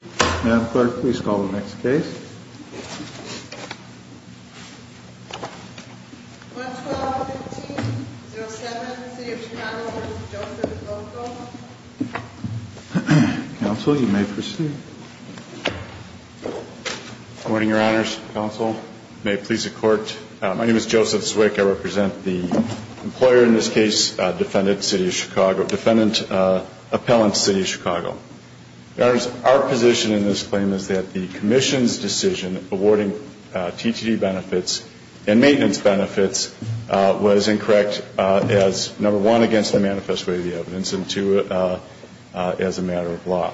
May I have the clerk please call the next case? 112-1507, City of Chicago v. Joseph Zwicko Counsel, you may proceed. Good morning, your honors. Counsel, may it please the court, my name is Joseph Zwick, I represent the employer in this case, defendant, City of Chicago, defendant, appellant, City of Chicago. Your honors, our position in this claim is that the commission's decision awarding TTD benefits and maintenance benefits was incorrect as, number one, against the manifest way of the evidence, and two, as a matter of law.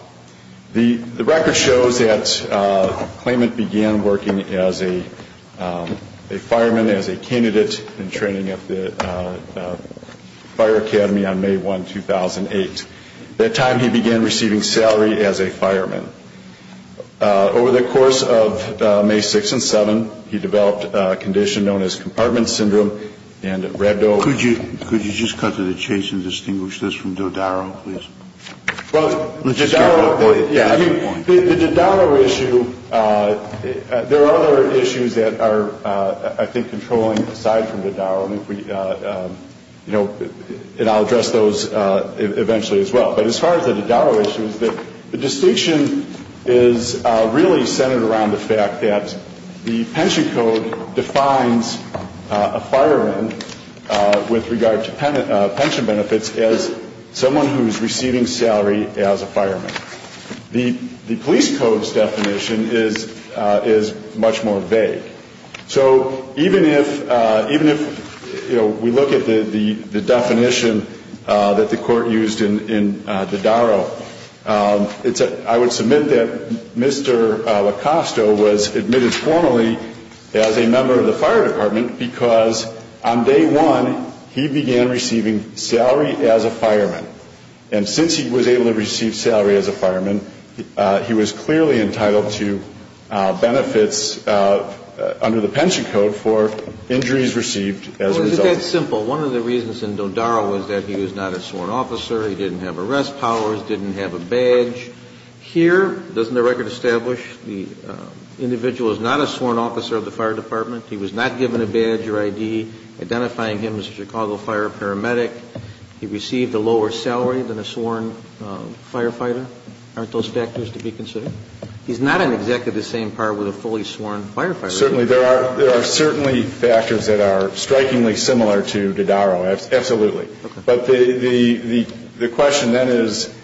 The record shows that the claimant began working as a fireman, as a candidate in training at the fire academy on May 1, 2008. At that time, he began receiving salary as a fireman. Over the course of May 6 and 7, he developed a condition known as compartment syndrome and rhabdo. Could you just cut to the chase and distinguish this from Dodaro, please? Well, the Dodaro issue, there are other issues that are, I think, controlling aside from Dodaro, and if we, you know, and I'll address those eventually as well. But as far as the Dodaro issue, the distinction is really centered around the fact that the pension code defines a fireman with regard to pension benefits as someone who is receiving salary as a fireman. The police code's definition is much more vague. So even if, you know, we look at the definition that the court used in Dodaro, I would submit that Mr. Lacoste was admitted formally as a member of the fire department because on day one, he began receiving salary as a fireman. And since he was able to receive salary as a fireman, he was clearly entitled to benefits under the pension code for injuries received as a result. Well, it's that simple. One of the reasons in Dodaro was that he was not a sworn officer. He didn't have arrest powers, didn't have a badge. Here, doesn't the record establish, the individual is not a sworn officer of the fire department. He was not given a badge or I.D., identifying him as a Chicago fire paramedic. He received a lower salary than a sworn firefighter. Aren't those factors to be considered? He's not on exactly the same par with a fully sworn firefighter. Certainly, there are certainly factors that are strikingly similar to Dodaro. Absolutely. But the question then is,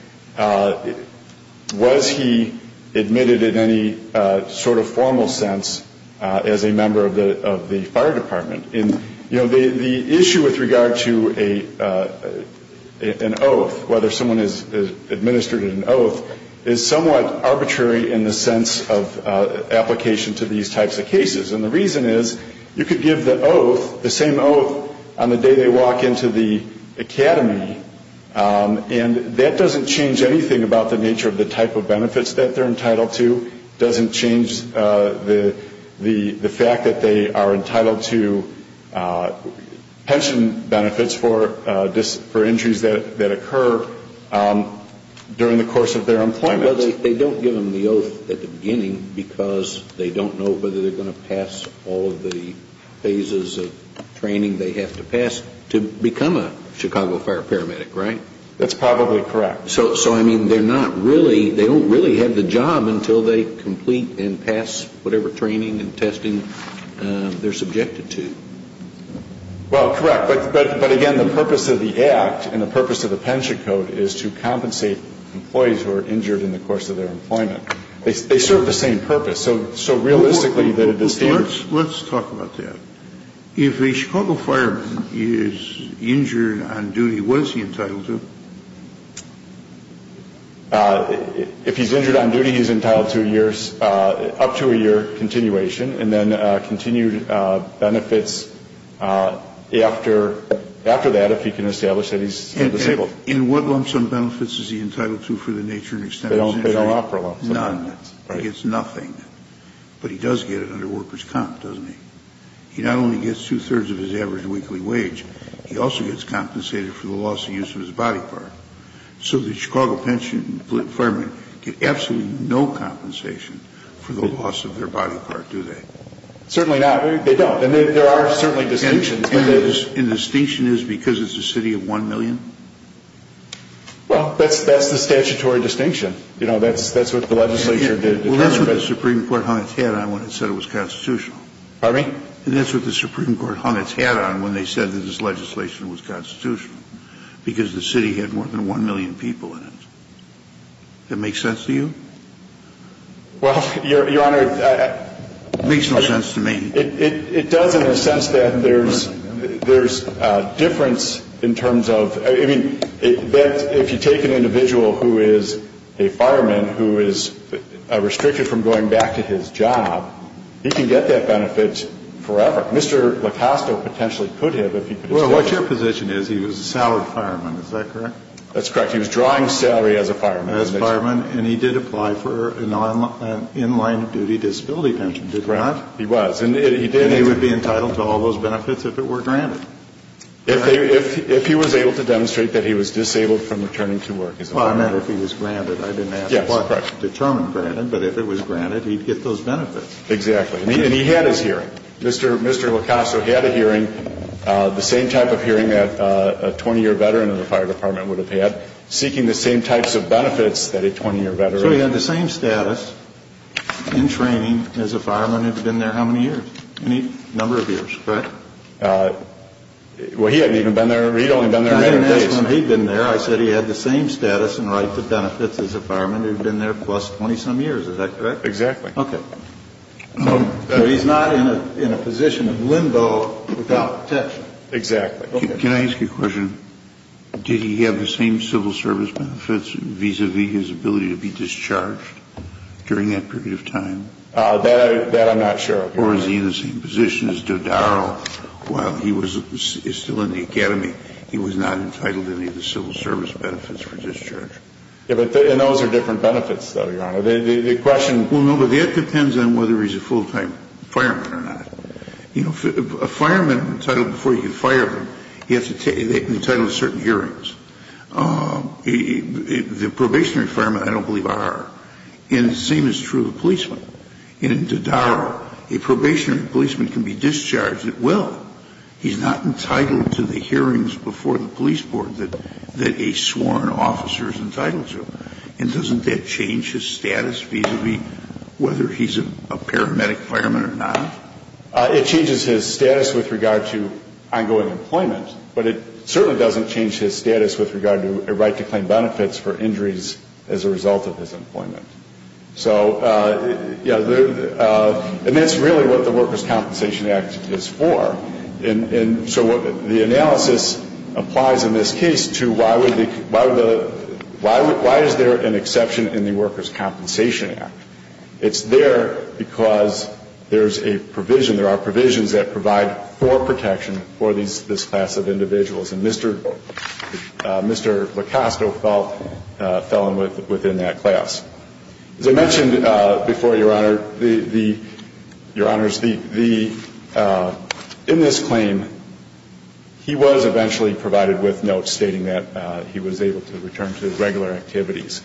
was he admitted in any sort of formal sense as a member of the fire department? The issue with regard to an oath, whether someone is administered an oath, is somewhat arbitrary in the sense of application to these types of cases. And the reason is, you could give the oath, the same oath on the day they walk into the academy, and that doesn't change anything about the nature of the type of benefits that they're entitled to. It doesn't change the fact that they are entitled to pension benefits for injuries that occur during the course of their employment. They don't give them the oath at the beginning because they don't know whether they're going to pass all of the phases of training they have to pass to become a Chicago fire paramedic, right? That's probably correct. So, I mean, they're not really, they don't really have the job until they complete and pass whatever training and testing they're subjected to. Well, correct. But, again, the purpose of the act and the purpose of the pension code is to compensate employees who are injured in the course of their employment. They serve the same purpose. So realistically that it is standard. Let's talk about that. If a Chicago fireman is injured on duty, what is he entitled to? If he's injured on duty, he's entitled to a year's, up to a year continuation, and then continued benefits after that if he can establish that he's disabled. And what lumpsum benefits is he entitled to for the nature and extent of his injury? They don't offer lumpsum benefits. None. He gets nothing. But he does get it under workers' comp, doesn't he? He not only gets two-thirds of his average weekly wage, he also gets compensated for the loss of use of his body part. So the Chicago pension firemen get absolutely no compensation for the loss of their body part, do they? Certainly not. They don't. And there are certainly distinctions. And the distinction is because it's a city of one million? Well, that's the statutory distinction. You know, that's what the legislature did. Well, that's what the Supreme Court hung its hat on when it said it was constitutional. Pardon me? And that's what the Supreme Court hung its hat on when they said that this legislation was constitutional, because the city had more than one million people in it. Does that make sense to you? Well, Your Honor. It makes no sense to me. It does in a sense that there's a difference in terms of, I mean, that if you take an individual who is a fireman who is restricted from going back to his job, he can get that benefit forever. Mr. Lacoste potentially could have if he could have said that. Well, what your position is, he was a salaried fireman. Is that correct? That's correct. He was drawing salary as a fireman. As a fireman. And he did apply for an in-line-of-duty disability pension, did he not? He was. And he did. And he would be entitled to all those benefits if it were granted. If he was able to demonstrate that he was disabled from returning to work as a fireman. Well, I meant if he was granted. I didn't ask what determined granted. But if it was granted, he'd get those benefits. Exactly. And he had his hearing. Mr. Lacoste had a hearing, the same type of hearing that a 20-year veteran of the fire department would have had, seeking the same types of benefits that a 20-year veteran. So he had the same status in training as a fireman who'd been there how many years? Any number of years, correct? Well, he hadn't even been there. He'd only been there a matter of days. I didn't ask when he'd been there. I said he had the same status and right to benefits as a fireman who'd been there plus 20-some years. Is that correct? Exactly. Okay. So he's not in a position of limbo without protection. Exactly. Can I ask you a question? Did he have the same civil service benefits vis-à-vis his ability to be discharged during that period of time? That I'm not sure. Or is he in the same position as Dodaro while he was still in the academy? He was not entitled to any of the civil service benefits for discharge. Yeah, but those are different benefits, though, Your Honor. The question is the same. Well, no, but that depends on whether he's a full-time fireman or not. You know, a fireman entitled before you fire him, he has to be entitled to certain hearings. The probationary firemen I don't believe are. And the same is true of a policeman. In Dodaro, a probationary policeman can be discharged at will. He's not entitled to the hearings before the police board that a sworn officer is entitled to. And doesn't that change his status vis-à-vis whether he's a paramedic fireman or not? It changes his status with regard to ongoing employment, but it certainly doesn't change his status with regard to a right to claim benefits for injuries as a result of his employment. So, yeah, and that's really what the Workers' Compensation Act is for. And so the analysis applies in this case to why is there an exception in the Workers' Compensation Act? It's there because there's a provision, there are provisions that provide for protection for this class of individuals. And Mr. Lacoste fell within that class. As I mentioned before, Your Honor, the, Your Honors, the, in this claim, he was eventually provided with notes stating that he was able to return to his regular activities.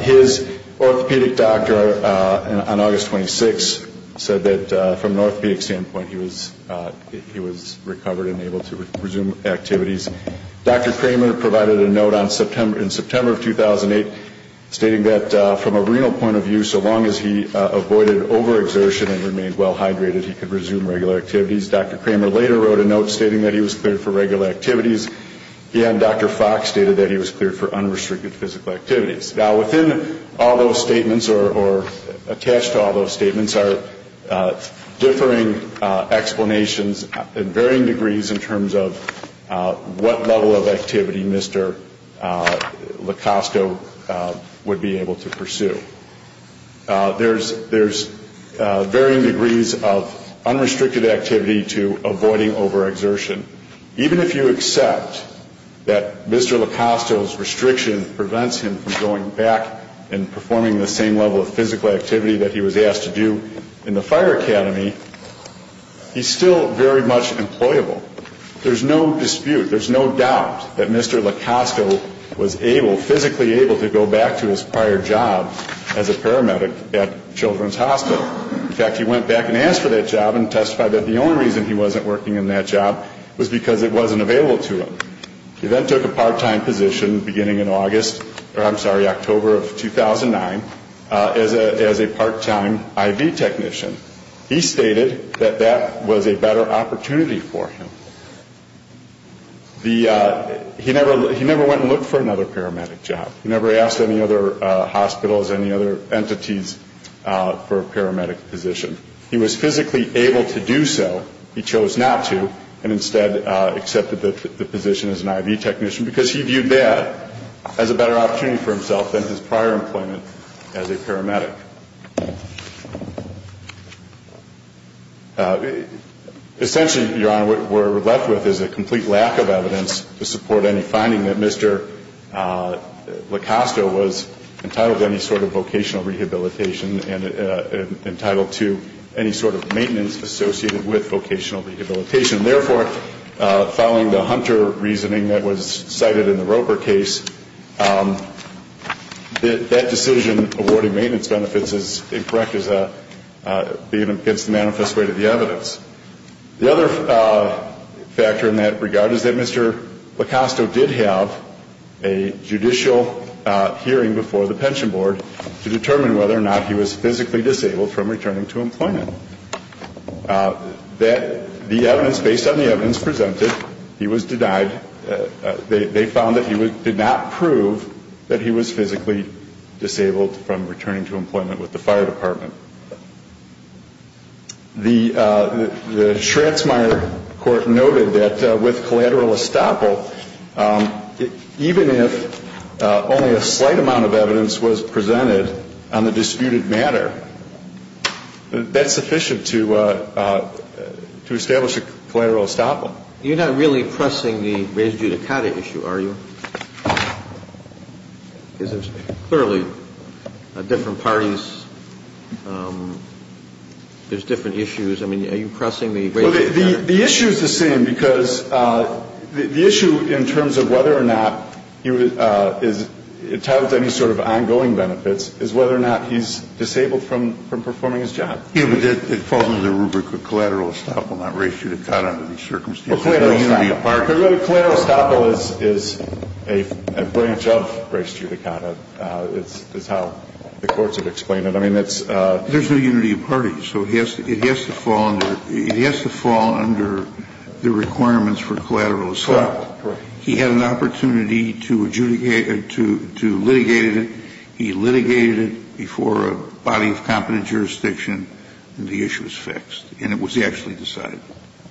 His orthopedic doctor on August 26 said that from an orthopedic standpoint he was recovered and able to resume activities. Dr. Kramer provided a note in September of 2008 stating that from a renal point of view, so long as he avoided overexertion and remained well hydrated, he could resume regular activities. Dr. Kramer later wrote a note stating that he was cleared for regular activities. And Dr. Fox stated that he was cleared for unrestricted physical activities. Now, within all those statements or attached to all those statements are differing explanations in varying degrees in terms of what level of activity Mr. Lacoste would be able to pursue. There's varying degrees of unrestricted activity to avoiding overexertion. Even if you accept that Mr. Lacoste's restriction prevents him from going back and performing the same level of physical activity that he was asked to do in the fire academy, he's still very much employable. There's no dispute, there's no doubt that Mr. Lacoste was able, physically able, to go back to his prior job as a paramedic at Children's Hospital. In fact, he went back and asked for that job and testified that the only reason he wasn't working in that job was because it wasn't available to him. He then took a part-time position beginning in August, or I'm sorry, October of 2009 as a part-time IV technician. He stated that that was a better opportunity for him. He never went and looked for another paramedic job. He never asked any other hospitals, any other entities for a paramedic position. He was physically able to do so. He chose not to and instead accepted the position as an IV technician because he viewed that as a better opportunity for himself than his prior employment as a paramedic. Essentially, Your Honor, what we're left with is a complete lack of evidence to support any finding that Mr. Lacoste was entitled to any sort of vocational rehabilitation and entitled to any sort of maintenance associated with vocational rehabilitation. Therefore, following the Hunter reasoning that was cited in the Roper case, that decision awarding maintenance benefits is incorrect as being against the manifest way to the evidence. The other factor in that regard is that Mr. Lacoste did have a judicial hearing before the pension board to determine whether or not he was physically disabled from returning to employment. That the evidence based on the evidence presented, he was denied. They found that he did not prove that he was physically disabled from returning to employment with the fire department. The Schratzmeyer court noted that with collateral estoppel, even if only a slight amount of evidence was presented on the disputed matter, that's sufficient to establish a collateral estoppel. You're not really pressing the raised judicata issue, are you? Because there's clearly different parties, there's different issues. I mean, are you pressing the raised judicata? The issue is the same, because the issue in terms of whether or not he was entitled to any sort of ongoing benefits is whether or not he's disabled from performing his job. Yeah, but it falls under the rubric of collateral estoppel, not ratio to cut under the circumstances. Collateral estoppel is a branch of raised judicata. It's how the courts have explained it. There's no unity of parties, so it has to fall under the requirements for collateral estoppel. Correct. He had an opportunity to litigate it. He litigated it before a body of competent jurisdiction, and the issue was fixed, and it was actually decided.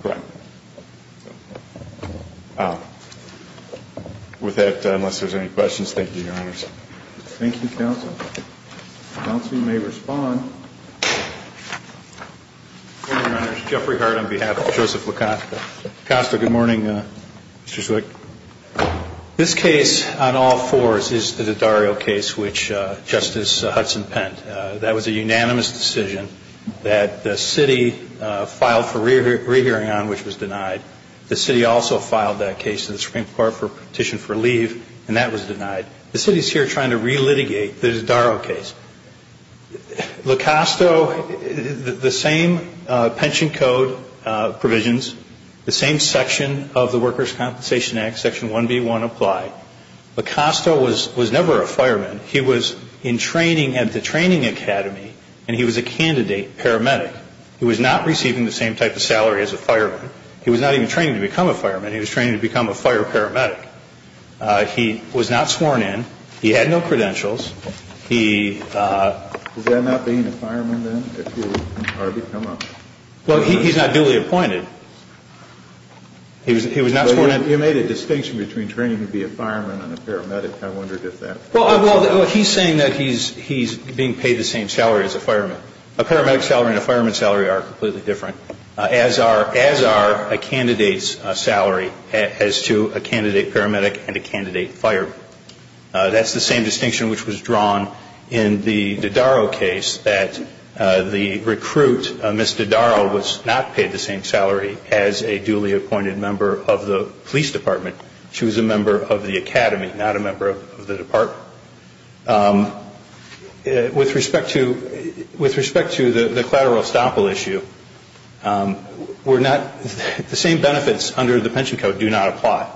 Correct. Wow. With that, unless there's any questions, thank you, Your Honors. Thank you, Counsel. Counsel may respond. Good morning, Your Honors. Jeffrey Hart on behalf of Joseph Lacoste. Counsel, good morning, Mr. Zwick. This case on all fours is the Daddario case, which Justice Hudson penned. That was a unanimous decision that the city filed for rehearing on, which was denied. The city also filed that case to the Supreme Court for petition for leave, and that was denied. The city is here trying to relitigate the Daddario case. Lacoste, the same pension code provisions, the same section of the Workers' Compensation Act, Section 1B1, applied. Lacoste was never a fireman. He was in training at the training academy, and he was a candidate paramedic. He was not receiving the same type of salary as a fireman. He was not even training to become a fireman. He was training to become a fire paramedic. He was not sworn in. He had no credentials. He ---- Was I not being a fireman then? Or become a ---- Well, he's not duly appointed. He was not sworn in. You made a distinction between training to be a fireman and a paramedic. I wondered if that ---- Well, he's saying that he's being paid the same salary as a fireman. A paramedic's salary and a fireman's salary are completely different, as are a candidate's salary as to a candidate paramedic and a candidate fireman. That's the same distinction which was drawn in the Daddario case, that the recruit, Ms. Daddario, was not paid the same salary as a duly appointed member of the police department. She was a member of the academy, not a member of the department. With respect to the collateral estoppel issue, we're not ---- the same benefits under the pension code do not apply.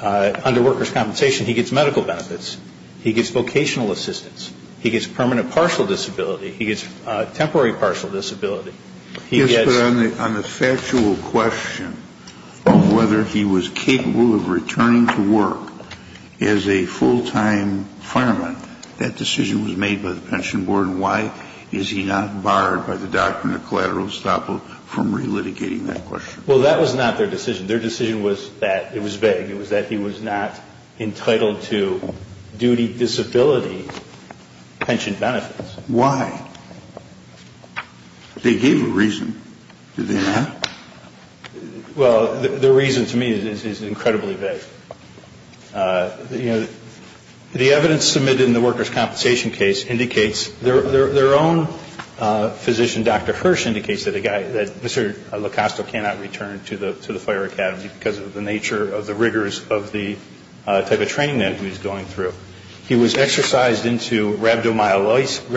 Under workers' compensation, he gets medical benefits. He gets vocational assistance. He gets permanent partial disability. He gets temporary partial disability. He gets ---- Yes, but on the factual question of whether he was capable of returning to work as a full-time fireman, that decision was made by the pension board. And why is he not barred by the doctrine of collateral estoppel from relitigating that question? Well, that was not their decision. Their decision was that it was vague. It was that he was not entitled to duty disability pension benefits. Why? They gave a reason. Did they not? Well, the reason to me is incredibly vague. You know, the evidence submitted in the workers' compensation case indicates their own physician, Dr. Hirsch, indicates that a guy, that Mr. Lacoste cannot return to the fire academy because of the nature of the rigors of the type of training that he was going through. He was exercised into rhabdomyolysis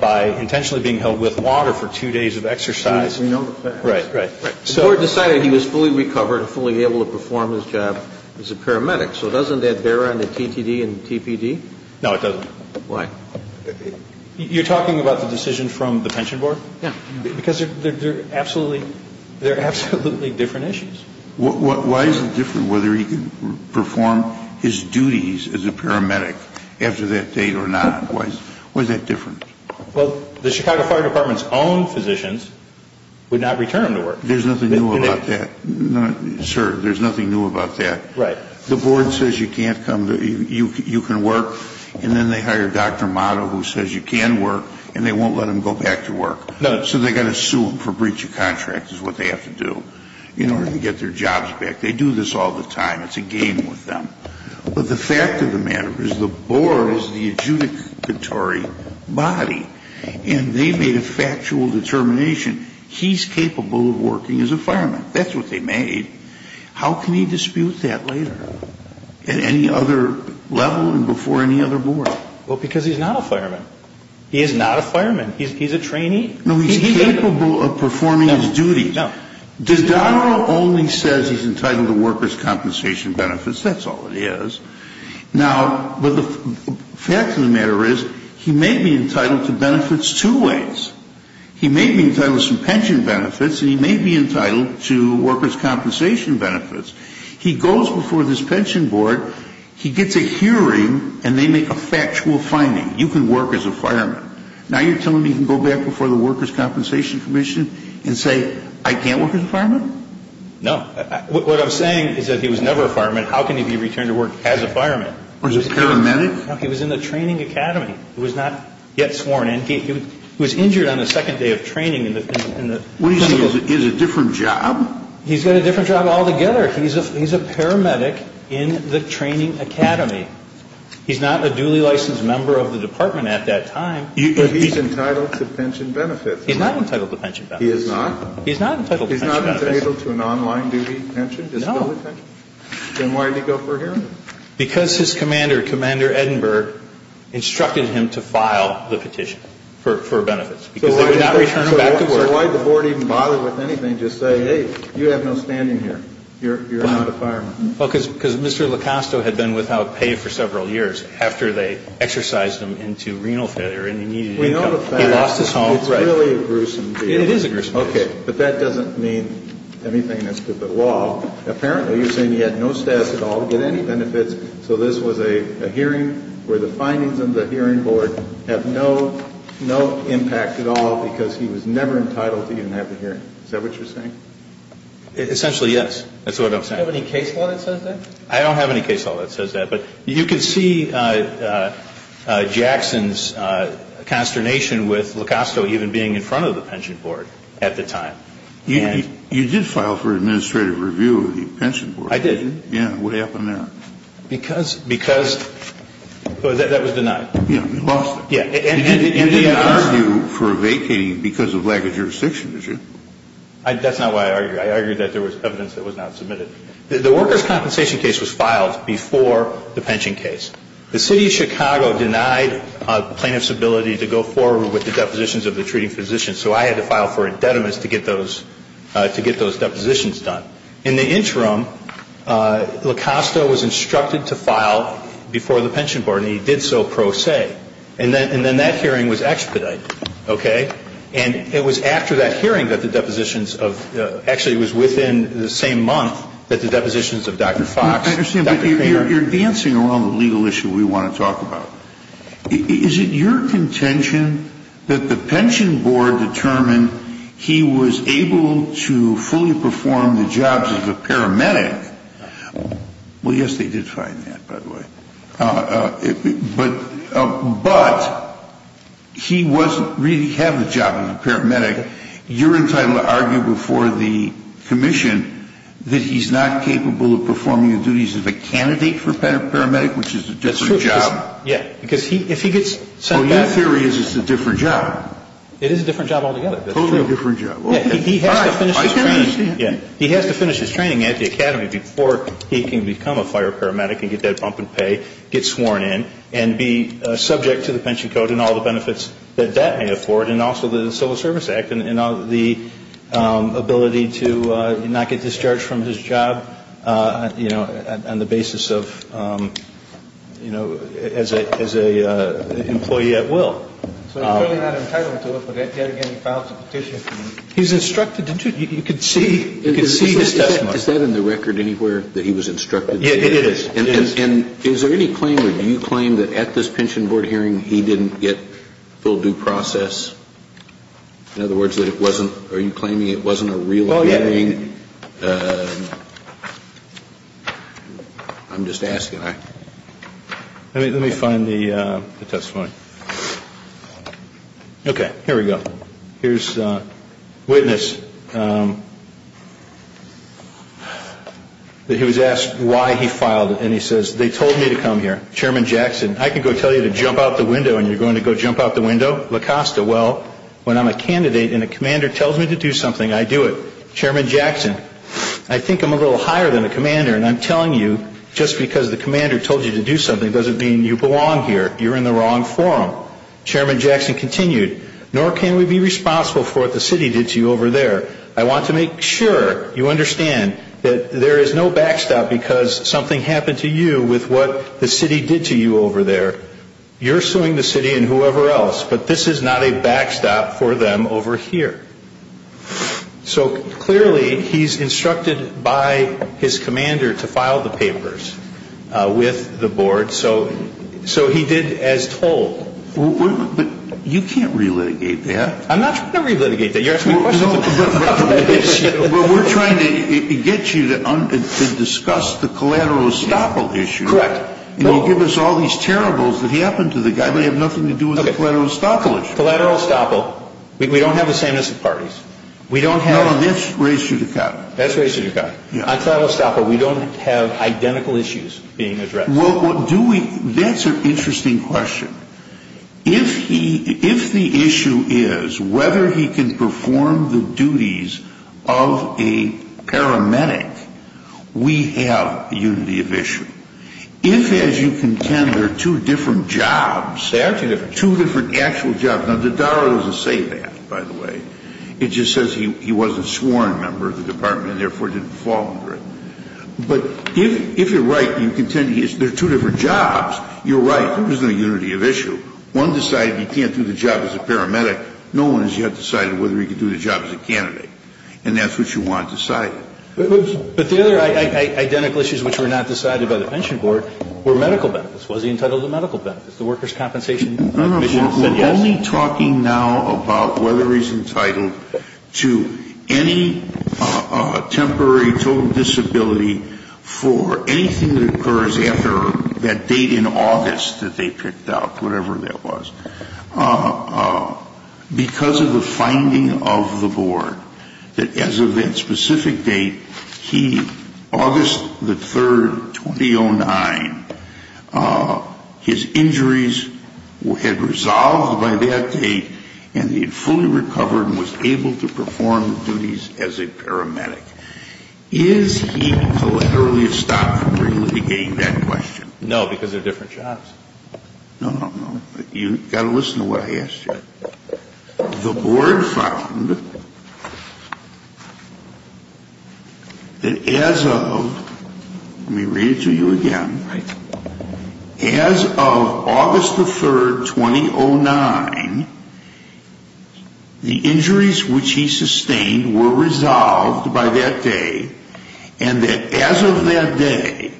by intentionally being held with water for two days of exercise. Right, right. The board decided he was fully recovered and fully able to perform his job as a paramedic. So doesn't that bear on the TTD and TPD? No, it doesn't. Why? You're talking about the decision from the pension board? Yes. Because they're absolutely different issues. Why is it different whether he can perform his duties as a paramedic after that date or not? Why is that different? Well, the Chicago Fire Department's own physicians would not return him to work. There's nothing new about that. Sir, there's nothing new about that. Right. The board says you can't come, you can work, and then they hire Dr. Motta, who says you can work, and they won't let him go back to work. No. So they've got to sue him for breach of contract is what they have to do in order to get their jobs back. They do this all the time. It's a game with them. But the fact of the matter is the board is the adjudicatory body, and they made a factual determination, he's capable of working as a fireman. That's what they made. How can he dispute that later at any other level and before any other board? Well, because he's not a fireman. He is not a fireman. He's a trainee. No, he's capable of performing his duties. No. D'Addaro only says he's entitled to workers' compensation benefits. That's all it is. Now, but the fact of the matter is he may be entitled to benefits two ways. He may be entitled to some pension benefits, and he may be entitled to workers' compensation benefits. He goes before this pension board, he gets a hearing, and they make a factual finding. You can work as a fireman. Now you're telling me you can go back before the Workers' Compensation Commission and say I can't work as a fireman? No. What I'm saying is that he was never a fireman. How can he be returned to work as a fireman? Or as a paramedic? No, he was in the training academy. He was not yet sworn in. He was injured on the second day of training in the clinical. What do you say, he has a different job? He's got a different job altogether. He's a paramedic in the training academy. He's not a duly licensed member of the department at that time. But he's entitled to pension benefits. He's not entitled to pension benefits. He is not? He's not entitled to pension benefits. He's not entitled to an online duly pension? No. Then why did he go for a hearing? Because his commander, Commander Edinburgh, instructed him to file the petition for benefits. Because they would not return him back to work. So why did the board even bother with anything? Just say hey, you have no standing here. You're not a fireman. Well, because Mr. Lacoste had been without pay for several years after they exercised him into renal failure and he needed income. We know the facts. He lost his home. It's really a gruesome deal. It is a gruesome deal. Okay. But that doesn't mean anything as to the law. Apparently you're saying he had no status at all to get any benefits, so this was a hearing where the findings of the hearing board have no impact at all because he was never entitled to even have the hearing. Is that what you're saying? Essentially, yes. That's what I'm saying. Do you have any case law that says that? I don't have any case law that says that. But you can see Jackson's consternation with Lacoste even being in front of the pension board at the time. You did file for administrative review of the pension board, didn't you? I did. Yes. What happened there? Because that was denied. Yes. You lost it. Yes. And they didn't ask you for a vacating because of lack of jurisdiction, did you? That's not what I argued. I argued that there was evidence that was not submitted. The workers' compensation case was filed before the pension case. The city of Chicago denied plaintiffs' ability to go forward with the depositions of the treating physicians, so I had to file for indebtedness to get those depositions done. In the interim, Lacoste was instructed to file before the pension board, and he did so pro se. And then that hearing was expedited. Okay. And it was after that hearing that the depositions of the ‑‑ actually, it was within the same month that the depositions of Dr. Fox, Dr. Kramer. I understand, but you're dancing around the legal issue we want to talk about. Is it your contention that the pension board determined he was able to fully perform the jobs of a paramedic? Well, yes, they did find that, by the way. But he wasn't really have the job of a paramedic. You're entitled to argue before the commission that he's not capable of performing the duties of a candidate for paramedic, which is a different job. That's true. Yeah. Because if he gets sent back ‑‑ Well, your theory is it's a different job. It is a different job altogether. Totally different job. He has to finish his training at the academy before he can become a fire paramedic and get that bump in pay, get sworn in, and be subject to the pension code and all the benefits that that may afford and also the Civil Service Act and the ability to not get discharged from his job, you know, on the basis of, you know, as an employee at will. So he's clearly not entitled to it, but yet again he filed a petition. He's instructed to do it. You can see his testimony. Yeah, it is. And is there any claim or do you claim that at this pension board hearing he didn't get full due process? In other words, are you claiming it wasn't a real hearing? Oh, yeah. I'm just asking. Let me find the testimony. Okay. Here we go. Here's witness. He was asked why he filed it, and he says, they told me to come here. Chairman Jackson, I can go tell you to jump out the window, and you're going to go jump out the window? LaCosta, well, when I'm a candidate and a commander tells me to do something, I do it. Chairman Jackson, I think I'm a little higher than a commander, and I'm telling you just because the commander told you to do something doesn't mean you belong here. You're in the wrong forum. Chairman Jackson continued, nor can we be responsible for what the city did to you over there. I want to make sure you understand that there is no backstop because something happened to you with what the city did to you over there. You're suing the city and whoever else, but this is not a backstop for them over here. So clearly he's instructed by his commander to file the papers with the board. So he did as told. But you can't relitigate that. I'm not trying to relitigate that. You're asking me questions about the issue. But we're trying to get you to discuss the collateral estoppel issue. Correct. And you give us all these terribles that happened to the guy. They have nothing to do with the collateral estoppel issue. Collateral estoppel, we don't have the sameness of parties. We don't have. No, that's res judicata. That's res judicata. On collateral estoppel, we don't have identical issues being addressed. Well, do we? That's an interesting question. If the issue is whether he can perform the duties of a paramedic, we have a unity of issue. If, as you contend, there are two different jobs, two different actual jobs. Now, the DARA doesn't say that, by the way. It just says he was a sworn member of the department and, therefore, didn't fall under it. But if you're right, you contend there are two different jobs. You're right. There was no unity of issue. One decided he can't do the job as a paramedic. No one has yet decided whether he can do the job as a candidate. And that's what you want decided. But the other identical issues which were not decided by the pension board were medical benefits. Was he entitled to medical benefits? The workers' compensation commission said yes. We're only talking now about whether he's entitled to any temporary total disability for anything that occurs after that date in August that they picked out, whatever that was. Because of the finding of the board that as of that specific date, he, August the 3rd, 2009, his injuries had resolved by that date and he had fully recovered and was able to perform the duties as a paramedic. Is he collaterally stopped from relitigating that question? No, because they're different jobs. No, no, no. You've got to listen to what I asked you. The board found that as of, let me read it to you again, as of August the 3rd, 2009, the injuries which he sustained were resolved by that day and that as of that day,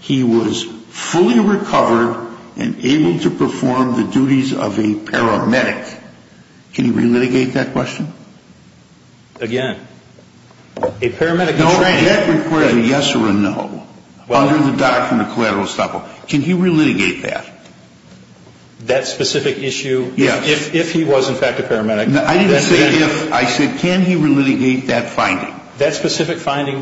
he was fully recovered and able to perform the duties of a paramedic. Can he relitigate that question? Again, a paramedic... No, that requires a yes or a no under the doctrine of collateral stop. Can he relitigate that? That specific issue? Yes. If he was, in fact, a paramedic. I didn't say if. I said can he relitigate that finding? That specific finding,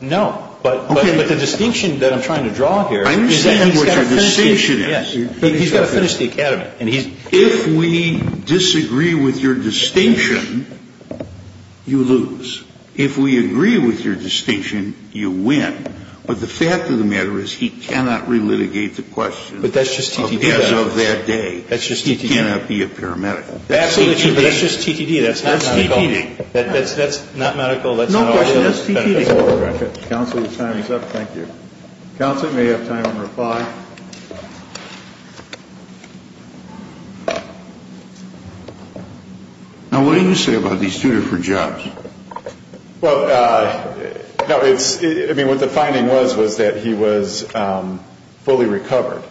no. But the distinction that I'm trying to draw here... I understand what your distinction is. He's got to finish the academy. If we disagree with your distinction, you lose. If we agree with your distinction, you win. But the fact of the matter is he cannot relitigate the question... But that's just TTD. ...as of that day. That's just TTD. He cannot be a paramedic. But that's just TTD. That's not medical. That's not medical. Counsel, your time is up. Thank you. Counsel, you may have time to reply. Now, what do you say about these two different jobs? Well, I mean, what the finding was was that he was fully recovered.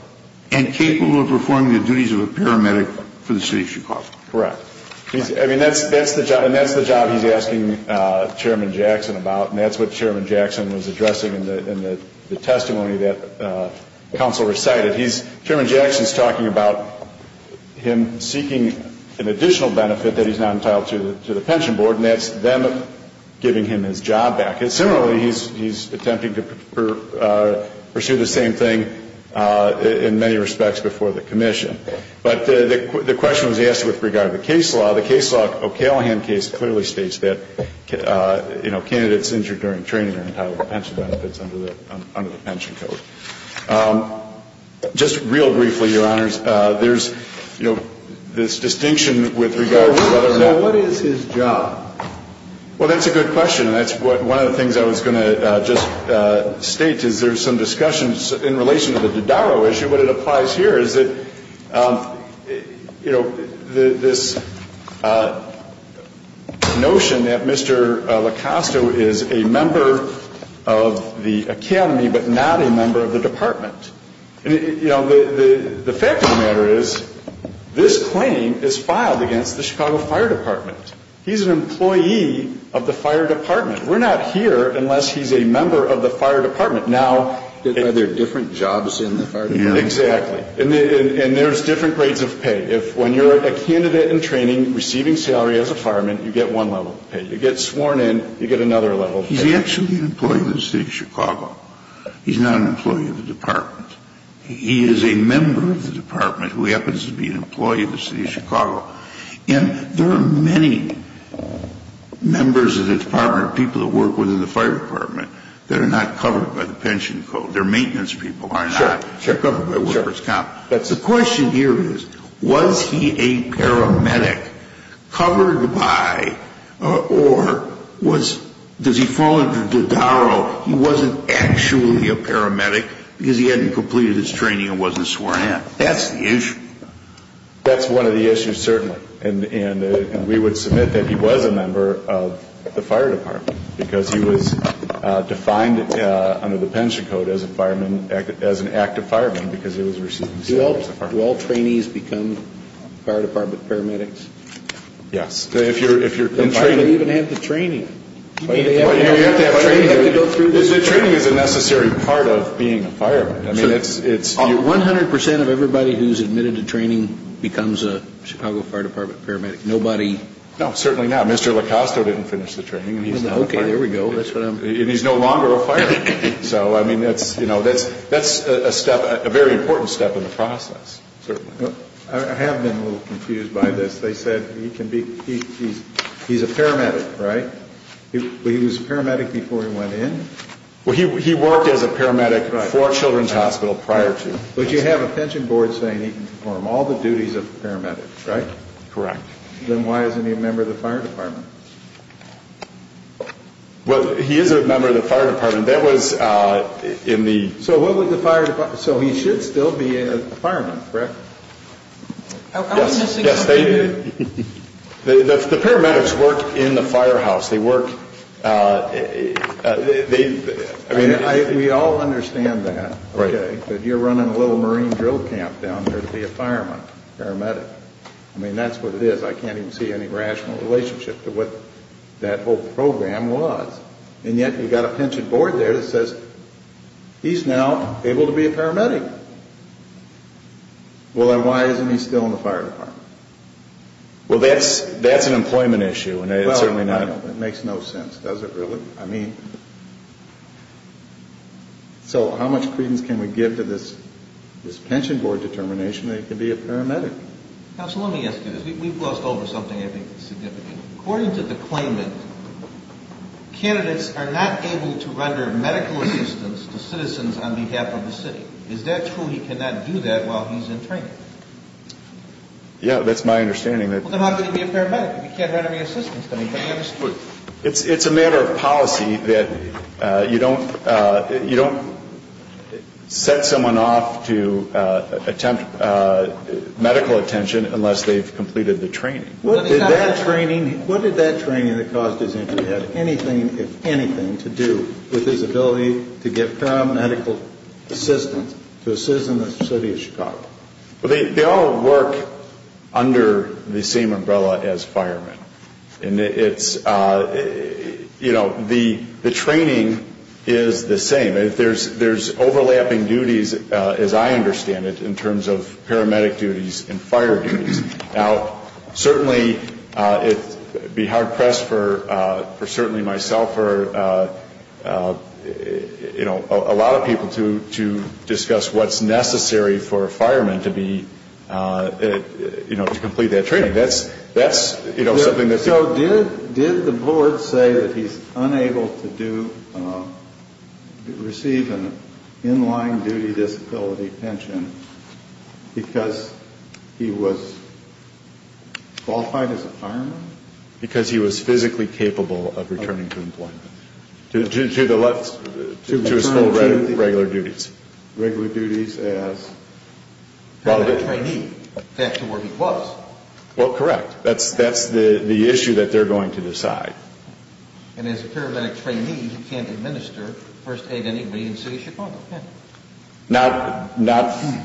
And capable of performing the duties of a paramedic for the city of Chicago. Correct. I mean, that's the job he's asking Chairman Jackson about. And that's what Chairman Jackson was addressing in the testimony that counsel recited. Chairman Jackson is talking about him seeking an additional benefit that he's not entitled to the pension board. And that's them giving him his job back. Similarly, he's attempting to pursue the same thing in many respects before the commission. But the question was asked with regard to the case law. The case law O'Callaghan case clearly states that, you know, candidates injured during training are entitled to pension benefits under the pension code. Just real briefly, Your Honors, there's, you know, this distinction with regard to whether or not. So what is his job? Well, that's a good question. And that's one of the things I was going to just state is there's some discussions in relation to the Dodaro issue. What it applies here is that, you know, this notion that Mr. Lacoste is a member of the academy but not a member of the department. And, you know, the fact of the matter is this claim is filed against the Chicago Fire Department. He's an employee of the fire department. We're not here unless he's a member of the fire department. Are there different jobs in the fire department? Exactly. And there's different rates of pay. When you're a candidate in training receiving salary as a fireman, you get one level of pay. You get sworn in, you get another level of pay. He's actually an employee of the city of Chicago. He's not an employee of the department. He is a member of the department who happens to be an employee of the city of Chicago. And there are many members of the department, people who work within the fire department, that are not covered by the pension code. Their maintenance people are not. They're covered by workers' comp. The question here is, was he a paramedic covered by or was he, does he fall under Dodaro? He wasn't actually a paramedic because he hadn't completed his training and wasn't sworn in. That's the issue. That's one of the issues, certainly. And we would submit that he was a member of the fire department because he was defined under the pension code as an active fireman because he was receiving salary as a fireman. Do all trainees become fire department paramedics? Yes, if you're in training. You don't even have the training. You have to have training. The training is a necessary part of being a fireman. One hundred percent of everybody who's admitted to training becomes a Chicago Fire Department paramedic? Nobody? No, certainly not. Mr. Lacoste didn't finish the training and he's not a fireman. Okay, there we go. And he's no longer a fireman. So, I mean, that's a step, a very important step in the process, certainly. I have been a little confused by this. They said he can be, he's a paramedic, right? He was a paramedic before he went in? Well, he worked as a paramedic for Children's Hospital prior to. But you have a pension board saying he can perform all the duties of a paramedic, right? Correct. Then why isn't he a member of the fire department? Well, he is a member of the fire department. That was in the... So what was the fire department? So he should still be a fireman, correct? Yes. I was missing something here. The paramedics work in the firehouse. They work... I mean, we all understand that, okay, that you're running a little marine drill camp down there to be a fireman, paramedic. I mean, that's what it is. I can't even see any rational relationship to what that whole program was. And yet you've got a pension board there that says he's now able to be a paramedic. Well, then why isn't he still in the fire department? Well, that's an employment issue. It's certainly not. It makes no sense, does it really? I mean, so how much credence can we give to this pension board determination that he can be a paramedic? Counsel, let me ask you this. We've lost over something, I think, significant. According to the claimant, candidates are not able to render medical assistance to citizens on behalf of the city. Is that true? He cannot do that while he's in training? Yeah, that's my understanding. Well, then how could he be a paramedic? He can't render any assistance to anybody. Understood. It's a matter of policy that you don't set someone off to attempt medical attention unless they've completed the training. What did that training that caused his injury have anything, if anything, to do with his ability to get paramedical assistance to a citizen of the city of Chicago? Well, they all work under the same umbrella as firemen. And it's, you know, the training is the same. There's overlapping duties, as I understand it, in terms of paramedic duties and fire duties. Now, certainly it would be hard-pressed for certainly myself or, you know, a lot of people to discuss what's necessary for a fireman to be, you know, to complete that training. That's, you know, something that's... Did the board say that he's unable to receive an in-line duty disability pension because he was qualified as a fireman? Because he was physically capable of returning to employment. To his full regular duties. Regular duties as paramedic. He was a trainee back to where he was. Well, correct. That's the issue that they're going to decide. And as a paramedic trainee, he can't administer first aid to anybody in the city of Chicago, can he? Not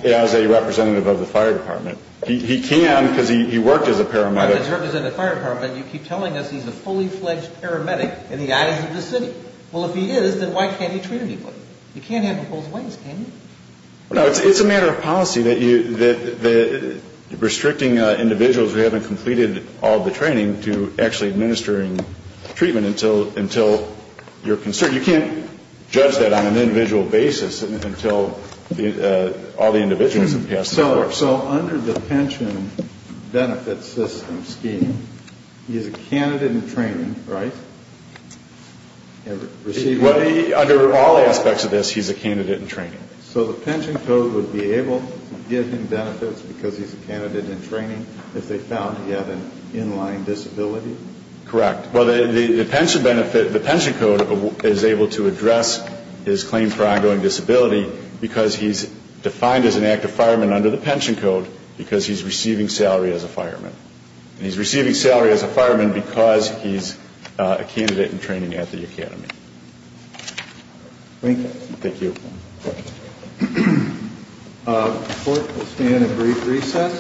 as a representative of the fire department. He can because he worked as a paramedic. But as a representative of the fire department, you keep telling us he's a fully-fledged paramedic in the eyes of the city. Well, if he is, then why can't he treat anybody? You can't have him pull his legs, can you? No, it's a matter of policy that restricting individuals who haven't completed all the training to actually administering treatment until you're concerned. You can't judge that on an individual basis until all the individuals have passed the course. So under the pension benefit system scheme, he's a candidate in training, right? Under all aspects of this, he's a candidate in training. So the pension code would be able to give him benefits because he's a candidate in training if they found he had an in-line disability? Correct. Well, the pension benefit, the pension code is able to address his claim for ongoing disability because he's defined as an active fireman under the pension code because he's receiving salary as a fireman. And he's receiving salary as a fireman because he's a candidate in training at the academy. Thank you. Thank you. The court will stand at brief recess.